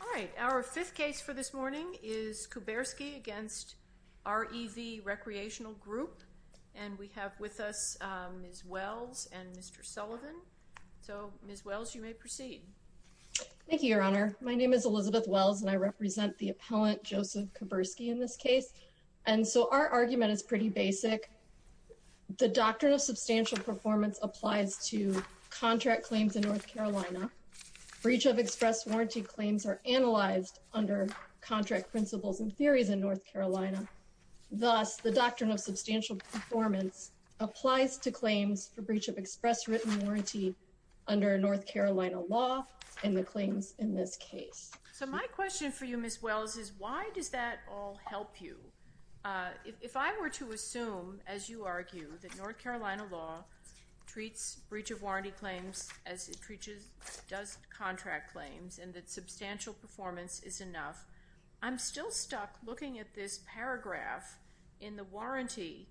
All right, our fifth case for this morning is Kuberski v. REV Recreational Group, and we have with us Ms. Wells and Mr. Sullivan. So, Ms. Wells, you may proceed. Thank you, Your Honor. My name is Elizabeth Wells, and I represent the appellant, Joseph Kuberski, in this case. And so our argument is pretty basic. The doctrine of substantial performance applies to contract claims in North Carolina. Breach of express warranty claims are analyzed under contract principles and theories in North Carolina. Thus, the doctrine of substantial performance applies to claims for breach of express written warranty under North Carolina law and the claims in this case. So my question for you, Ms. Wells, is why does that all help you? If I were to assume, as you argue, that North Carolina law treats breach of warranty claims as it does contract claims, and that substantial performance is enough, I'm still stuck looking at this paragraph in the warranty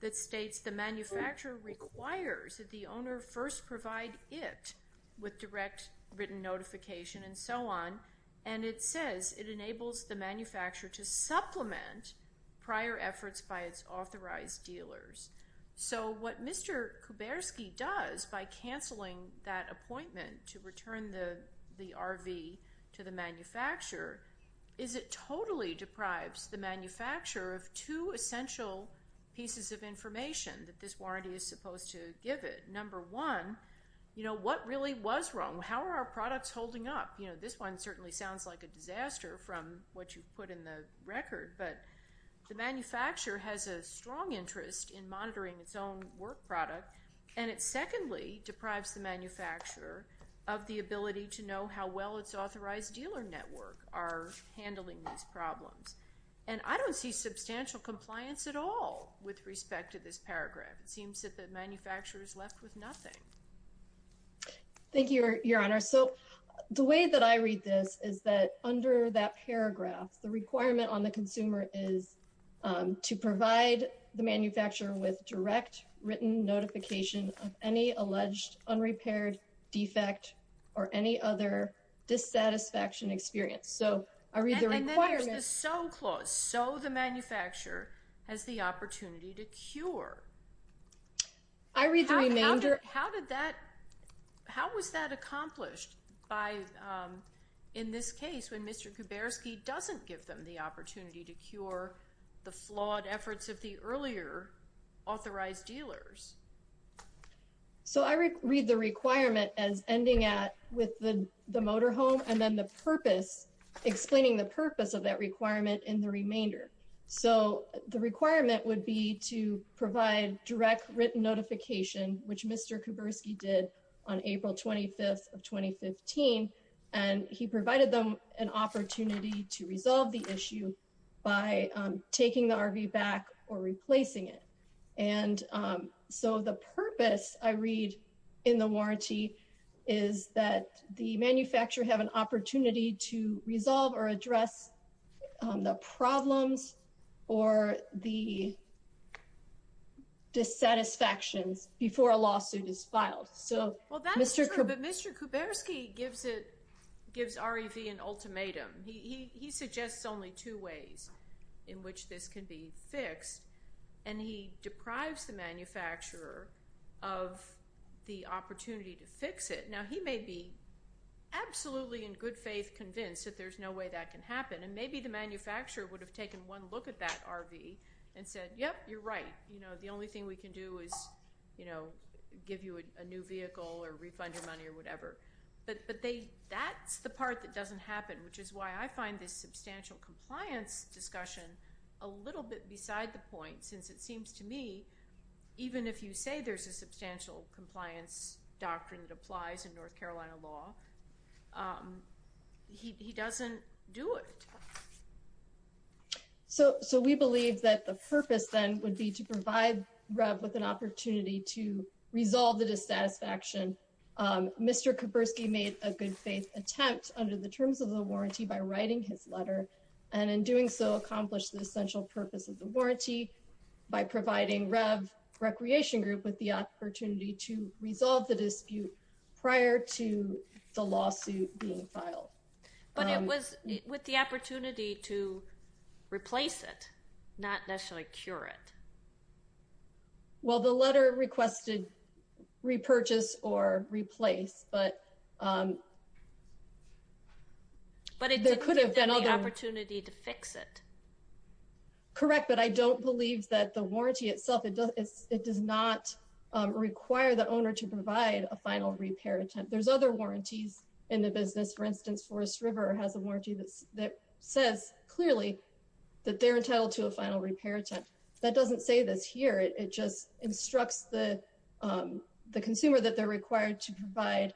that states the manufacturer requires that the owner first provide it with direct written notification and so on, and it says it enables the manufacturer to supplement prior efforts by its authorized dealers. So what Mr. Kuberski does by canceling that appointment to return the RV to the manufacturer is it totally deprives the manufacturer of two essential pieces of information that this warranty is supposed to give it. Number one, you know, what really was wrong? How are our products holding up? You know, this one certainly sounds like a disaster from what you've put in the record, but the manufacturer has a strong interest in monitoring its own work product. And it secondly deprives the manufacturer of the ability to know how well its authorized dealer network are handling these problems. And I don't see substantial compliance at all with respect to this paragraph. It seems that the manufacturer is left with nothing. Thank you, Your Honor. So the way that I read this is that under that paragraph, the requirement on the consumer is to provide the manufacturer with direct written notification of any alleged unrepaired defect or any other dissatisfaction experience. So I read the requirement- And then there's the so clause, so the manufacturer has the opportunity to cure. I read the remainder- How did that, how was that accomplished by, in this case, when Mr. Kuberski doesn't give them the opportunity to cure the flawed efforts of the earlier authorized dealers? So I read the requirement as ending at with the motorhome and then the purpose, explaining the purpose of that requirement in the remainder. So the requirement would be to provide direct written notification, which Mr. Kuberski did on April 25th of 2015. And he provided them an opportunity to resolve the issue by taking the RV back or replacing it. And so the purpose I read in the warranty is that the manufacturer have an opportunity to resolve or address the problems or the dissatisfactions before a lawsuit is filed. So- Well, that's true, but Mr. Kuberski gives it, gives REV an ultimatum. He suggests only two ways in which this can be fixed, and he deprives the manufacturer of the opportunity to fix it. Now, he may be absolutely in good faith convinced that there's no way that can happen. And maybe the manufacturer would have taken one look at that RV and said, yep, you're right. You know, the only thing we can do is, you know, give you a new vehicle or refund your money or whatever. But that's the part that doesn't happen, which is why I find this substantial compliance discussion a little bit beside the point. Since it seems to me, even if you say there's a substantial compliance doctrine that applies in North Carolina law, he doesn't do it. So we believe that the purpose then would be to provide REV with an opportunity to resolve the dissatisfaction. Mr. Kuberski made a good faith attempt under the terms of the warranty by writing his letter. And in doing so, accomplished the essential purpose of the warranty by providing REV Recreation Group with the opportunity to resolve the dispute prior to the lawsuit being filed. But it was with the opportunity to replace it, not necessarily cure it. Well, the letter requested repurchase or replace, but it could have been an opportunity to fix it. Correct, but I don't believe that the warranty itself, it does not require the owner to provide a final repair attempt. There's other warranties in the business. For instance, Forest River has a warranty that says clearly that they're entitled to a final repair attempt. That doesn't say this here. It just instructs the consumer that they're required to provide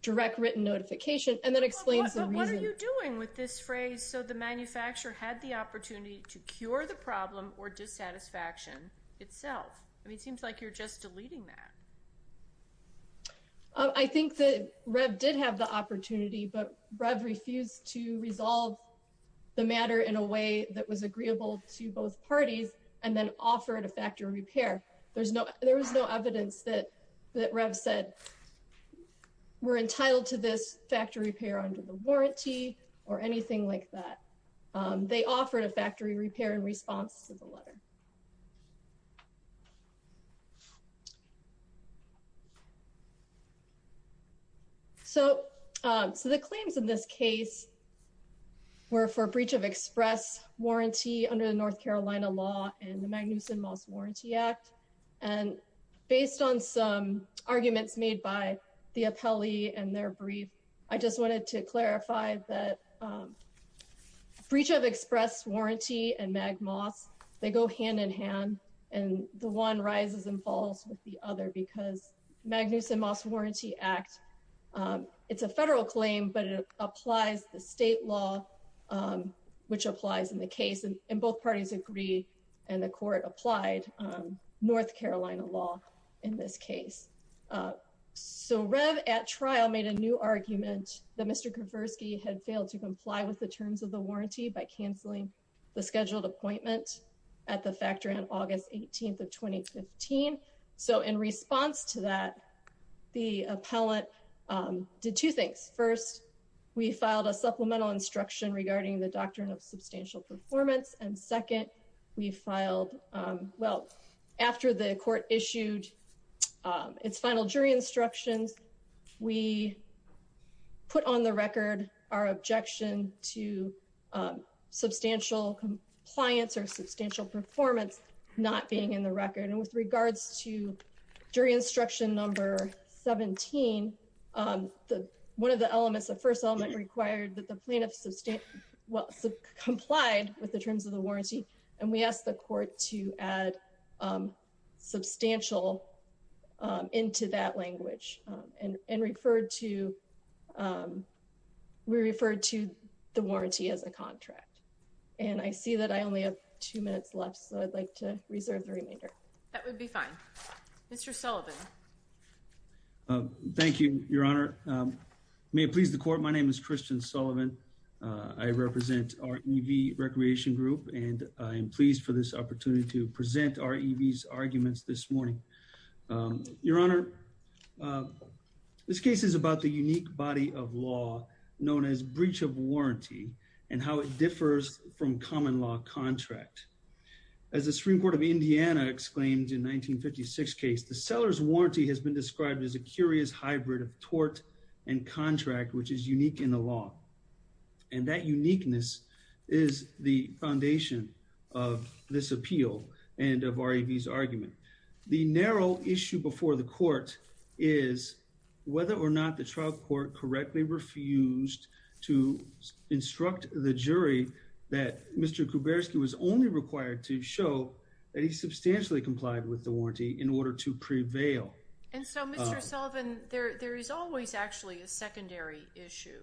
direct written notification and then explains the reason. But what are you doing with this phrase? So the manufacturer had the opportunity to cure the problem or dissatisfaction itself. I mean, it seems like you're just deleting that. I think that REV did have the opportunity, but REV refused to resolve the matter in a way that was agreeable to both parties and then offered a factory repair. There was no evidence that REV said we're entitled to this factory repair under the warranty or anything like that. They offered a factory repair in response to the letter. So the claims in this case were for breach of express warranty under the North Carolina law and the Magnuson Moss Warranty Act. And based on some arguments made by the appellee and their brief, I just wanted to clarify that breach of express warranty and mag moss, they go hand in hand and the one rises and falls with the other because Magnuson Moss Warranty Act, it's a federal claim, but it applies the state law, which applies in the case. And both parties agree and the court applied North Carolina law in this case. So REV at trial made a new argument that Mr. Kowarski had failed to comply with the terms of the warranty by canceling the scheduled appointment at the factory on August 18th of 2015. So in response to that, the appellant did two things. First, we filed a supplemental instruction regarding the doctrine of substantial performance. And second, we filed, well, after the court issued its final jury instructions, we put on the record our objection to substantial compliance or substantial performance not being in the record. And with regards to jury instruction number 17, one of the elements, the first element required that the plaintiff comply with the terms of the warranty. And we asked the court to add substantial into that language. And we referred to the warranty as a contract. And I see that I only have two minutes left, so I'd like to reserve the remainder. That would be fine. Mr. Sullivan. Thank you, Your Honor. May it please the court, my name is Christian Sullivan. I represent REV Recreation Group and I am pleased for this opportunity to present REV's arguments this morning. Your Honor, this case is about the unique body of law known as breach of warranty and how it differs from common law contract. As the Supreme Court of Indiana exclaimed in 1956 case, the seller's warranty has been described as a curious hybrid of tort and contract which is unique in the law. And that uniqueness is the foundation of this appeal and of REV's argument. The narrow issue before the court is whether or not the trial court correctly refused to instruct the jury that Mr. Kuberski was only required to show that he substantially complied with the warranty in order to prevail. And so, Mr. Sullivan, there is always actually a secondary issue.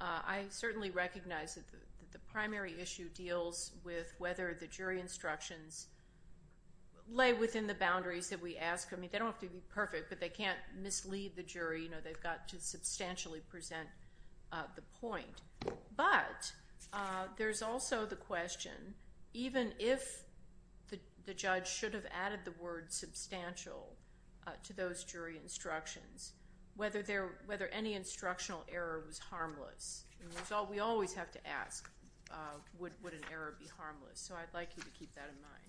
I certainly recognize that the primary issue deals with whether the jury instructions lay within the boundaries that we ask. I mean, they don't have to be perfect, but they can't mislead the jury. You know, they've got to substantially present the point. But there's also the question, even if the judge should have added the word substantial to those jury instructions, whether any instructional error was harmless. We always have to ask, would an error be harmless? So I'd like you to keep that in mind.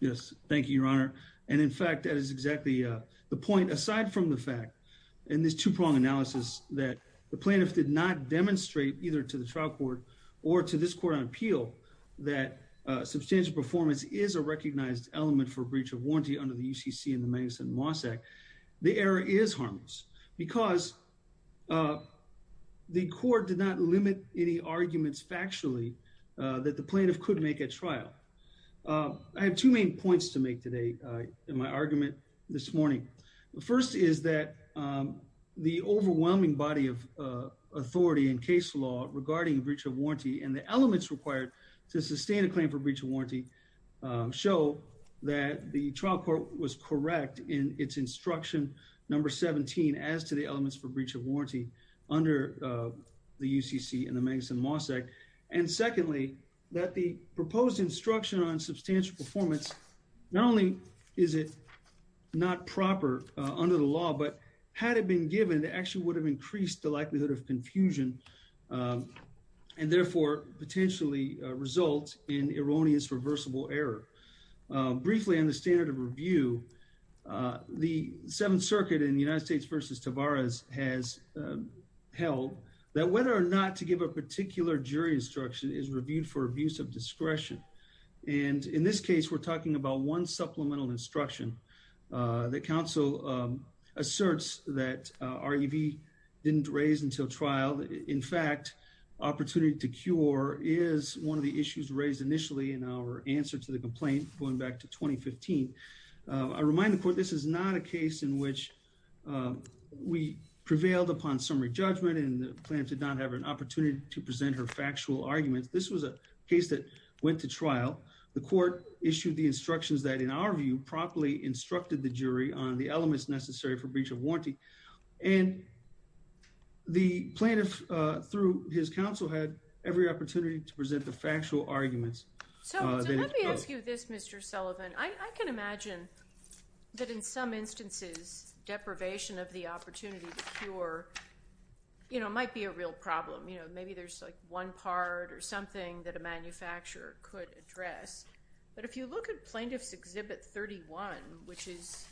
Yes, thank you, Your Honor. And in fact, that is exactly the point. Aside from the fact in this two-prong analysis that the plaintiff did not demonstrate either to the trial court or to this court on appeal that substantial performance is a recognized element for breach of warranty under the UCC and the Magnuson-Moss Act, the error is harmless because the court did not limit any arguments factually that the plaintiff could make at trial. I have two main points to make today in my argument this morning. The first is that the overwhelming body of authority in case law regarding breach of warranty and the elements required to sustain a claim for breach of warranty show that the trial court was correct in its instruction number 17 as to the elements for breach of warranty under the UCC and the Magnuson-Moss Act. And secondly, that the proposed instruction on substantial performance, not only is it not proper under the law, but had it been given, it actually would have increased the likelihood of confusion and therefore potentially result in erroneous reversible error. Briefly, on the standard of review, the Seventh Circuit in the United States v. Tavares has held that whether or not to give a particular jury instruction is reviewed for abuse of discretion. And in this case, we're talking about one supplemental instruction that counsel asserts that REV didn't raise until trial. In fact, opportunity to cure is one of the issues raised initially in our answer to the complaint going back to 2015. I remind the court this is not a case in which we prevailed upon summary judgment and the plaintiff did not have an opportunity to present her factual arguments. This was a case that went to trial. The court issued the instructions that, in our view, properly instructed the jury on the elements necessary for breach of warranty. And the plaintiff, through his counsel, had every opportunity to present the factual arguments. So let me ask you this, Mr. Sullivan. I can imagine that in some instances deprivation of the opportunity to cure might be a real problem. Maybe there's one part or something that a manufacturer could address. But if you look at Plaintiff's Exhibit 31, which is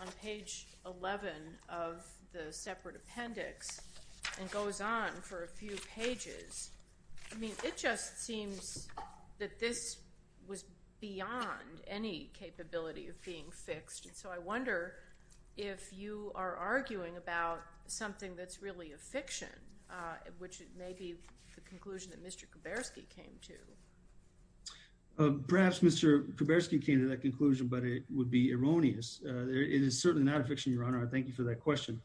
on page 11 of the separate appendix and goes on for a few pages, I mean, it just seems that this was beyond any capability of being fixed. So I wonder if you are arguing about something that's really a fiction, which may be the conclusion that Mr. Kuberski came to. Perhaps Mr. Kuberski came to that conclusion, but it would be erroneous. It is certainly not a fiction, Your Honor. I thank you for that question.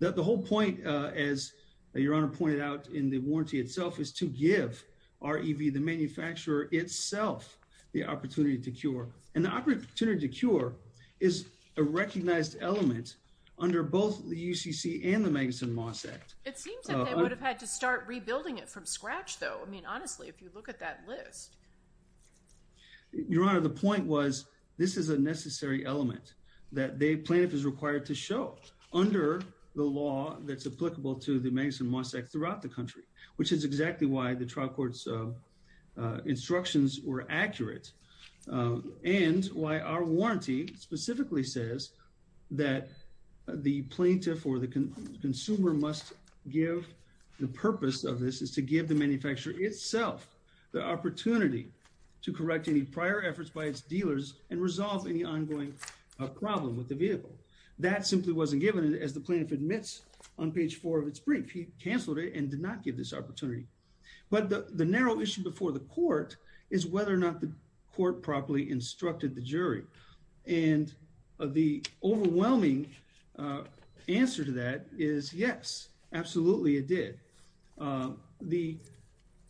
The whole point, as Your Honor pointed out in the warranty itself, is to give REV, the manufacturer itself, the opportunity to cure. And the opportunity to cure is a recognized element under both the UCC and the Magnuson Moss Act. It seems that they would have had to start rebuilding it from scratch, though. I mean, honestly, if you look at that list. Your Honor, the point was this is a necessary element that the plaintiff is required to show. Under the law that's applicable to the Magnuson Moss Act throughout the country, which is exactly why the trial court's instructions were accurate and why our warranty specifically says that the plaintiff or the consumer must give, the purpose of this is to give the manufacturer itself the opportunity to correct any prior efforts by its dealers and resolve any ongoing problem with the vehicle. That simply wasn't given, as the plaintiff admits on page four of its brief. He canceled it and did not give this opportunity. But the narrow issue before the court is whether or not the court properly instructed the jury. And the overwhelming answer to that is yes, absolutely it did. The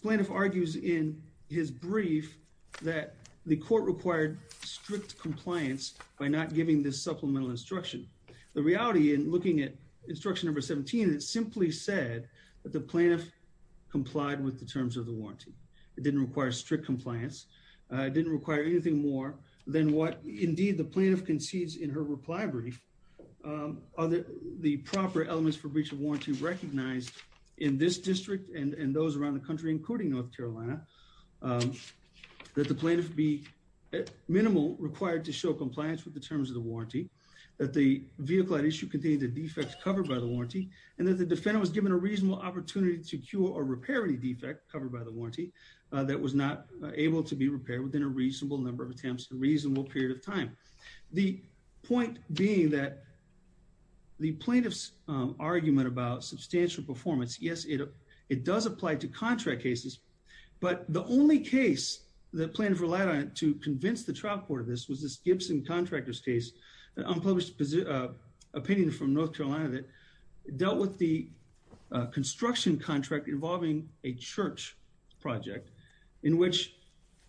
plaintiff argues in his brief that the court required strict compliance by not giving this supplemental instruction. The reality in looking at instruction number 17, it simply said that the plaintiff complied with the terms of the warranty. It didn't require strict compliance. It didn't require anything more than what, indeed, the plaintiff concedes in her reply brief. The proper elements for breach of warranty recognized in this district and those around the country, including North Carolina, that the plaintiff be minimal required to show compliance with the terms of the warranty, that the vehicle at issue contained a defect covered by the warranty, and that the defendant was given a reasonable opportunity to cure or repair any defect covered by the warranty that was not able to be repaired within a reasonable number of attempts in a reasonable period of time. The point being that the plaintiff's argument about substantial performance, yes, it does apply to contract cases, but the only case the plaintiff relied on to convince the trial court of this was this Gibson Contractors case, an unpublished opinion from North Carolina that dealt with the construction contract involving a church project in which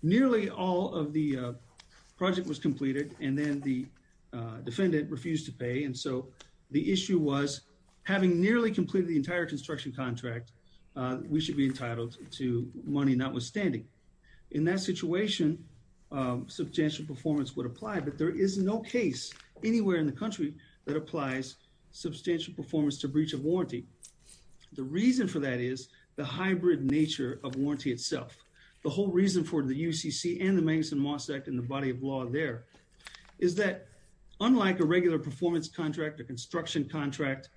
nearly all of the project was completed and then the defendant refused to pay. And so the issue was, having nearly completed the entire construction contract, we should be entitled to money notwithstanding. In that situation, substantial performance would apply, but there is no case anywhere in the country that applies substantial performance to breach of warranty. The reason for that is the hybrid nature of warranty itself. The whole reason for the UCC and the Mangus and Moss Act and the body of law there is that unlike a regular performance contract, a construction contract,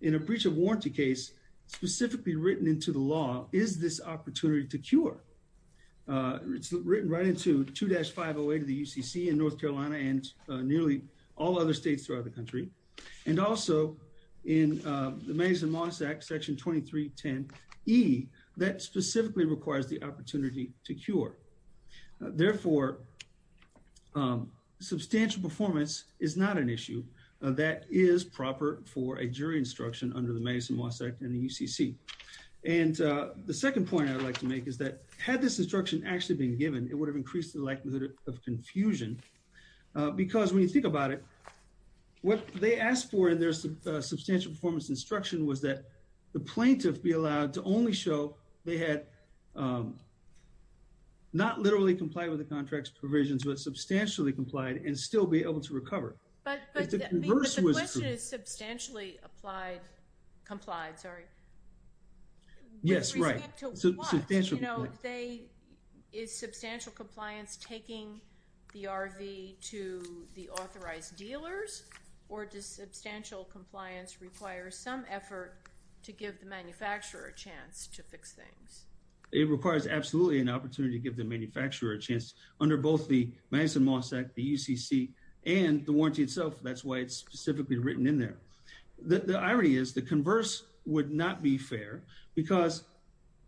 in a breach of warranty case specifically written into the law is this opportunity to cure. It's written right into 2-508 of the UCC in North Carolina and nearly all other states throughout the country. And also in the Mangus and Moss Act, Section 2310E, that specifically requires the opportunity to cure. Therefore, substantial performance is not an issue. That is proper for a jury instruction under the Mangus and Moss Act and the UCC. And the second point I would like to make is that had this instruction actually been given, it would have increased the likelihood of confusion because when you think about it, what they asked for in their substantial performance instruction was that the plaintiff be allowed to only show they had not literally complied with the contract's provisions but substantially complied and still be able to recover. If the converse was true. But the question is substantially applied, complied, sorry. Yes, right. With respect to what? Is substantial compliance taking the RV to the authorized dealers or does substantial compliance require some effort to give the manufacturer a chance to fix things? It requires absolutely an opportunity to give the manufacturer a chance under both the Mangus and Moss Act, the UCC, and the warranty itself. That's why it's specifically written in there. The irony is the converse would not be fair because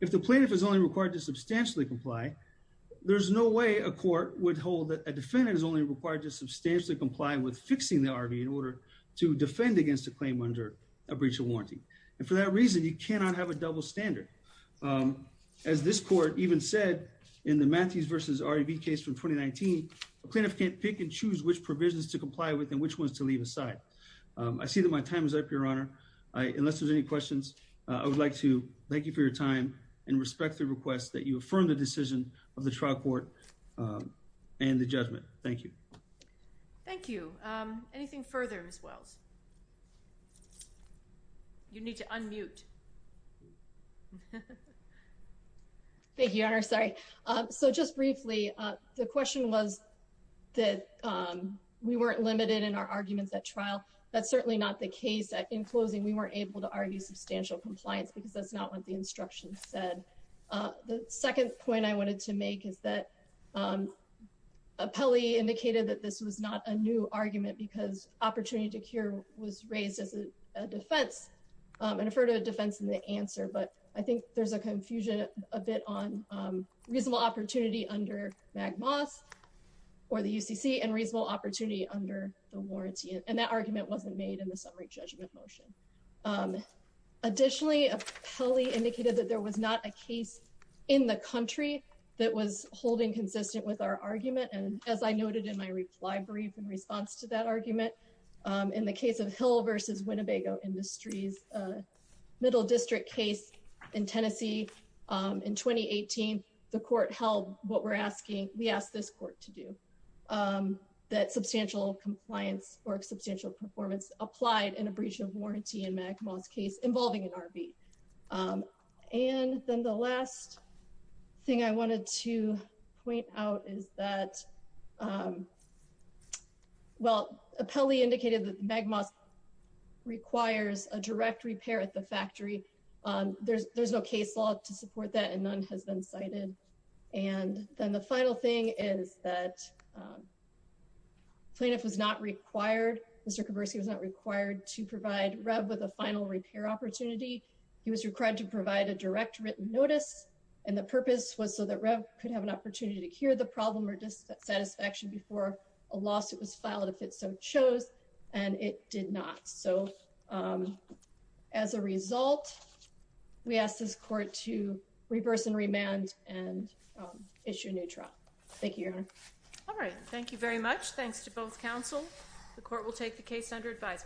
if the plaintiff is only required to substantially comply, there's no way a court would hold that a defendant is only required to substantially comply with fixing the RV in order to defend against a claim under a breach of warranty. And for that reason, you cannot have a double standard. As this court even said in the Matthews versus RAB case from 2019, a plaintiff can't pick and choose which provisions to comply with and which ones to leave aside. I see that my time is up, Your Honor. Unless there's any questions, I would like to thank you for your time and respect the request that you affirm the decision of the trial court and the judgment. Thank you. Thank you. Anything further, Ms. Wells? You need to unmute. Thank you, Your Honor. Sorry. So just briefly, the question was that we weren't limited in our arguments at trial. That's certainly not the case. In closing, we weren't able to argue substantial compliance because that's not what the instructions said. The second point I wanted to make is that Appelli indicated that this was not a new argument because opportunity to cure was raised as a defense and referred to a defense in the answer, but I think there's a confusion a bit on reasonable opportunity under MAGMAS or the UCC and reasonable opportunity under the warranty and that argument wasn't made in the summary judgment motion. Additionally, Appelli indicated that there was not a case in the country that was holding consistent with our argument and as I noted in my reply brief in response to that argument, in the case of Hill v. Winnebago Industries, middle district case in Tennessee in 2018, the court held what we're asking, we asked this court to do, that substantial compliance or substantial performance applied in a breach of warranty in MAGMAS case involving an RV. And then the last thing I wanted to point out is that, well, Appelli indicated that MAGMAS requires a direct repair at the factory. There's no case law to support that and none has been cited. And then the final thing is that plaintiff was not required, Mr. Kaburski was not required to provide REV with a final repair opportunity. He was required to provide a direct written notice and the purpose was so that REV could have an opportunity to cure the problem or dissatisfaction before a lawsuit was filed if it so chose, and it did not. So as a result, we ask this court to reverse and remand and issue a new trial. Thank you, Your Honor. All right. Thank you very much. Thanks to both counsel. The court will take the case under advisement.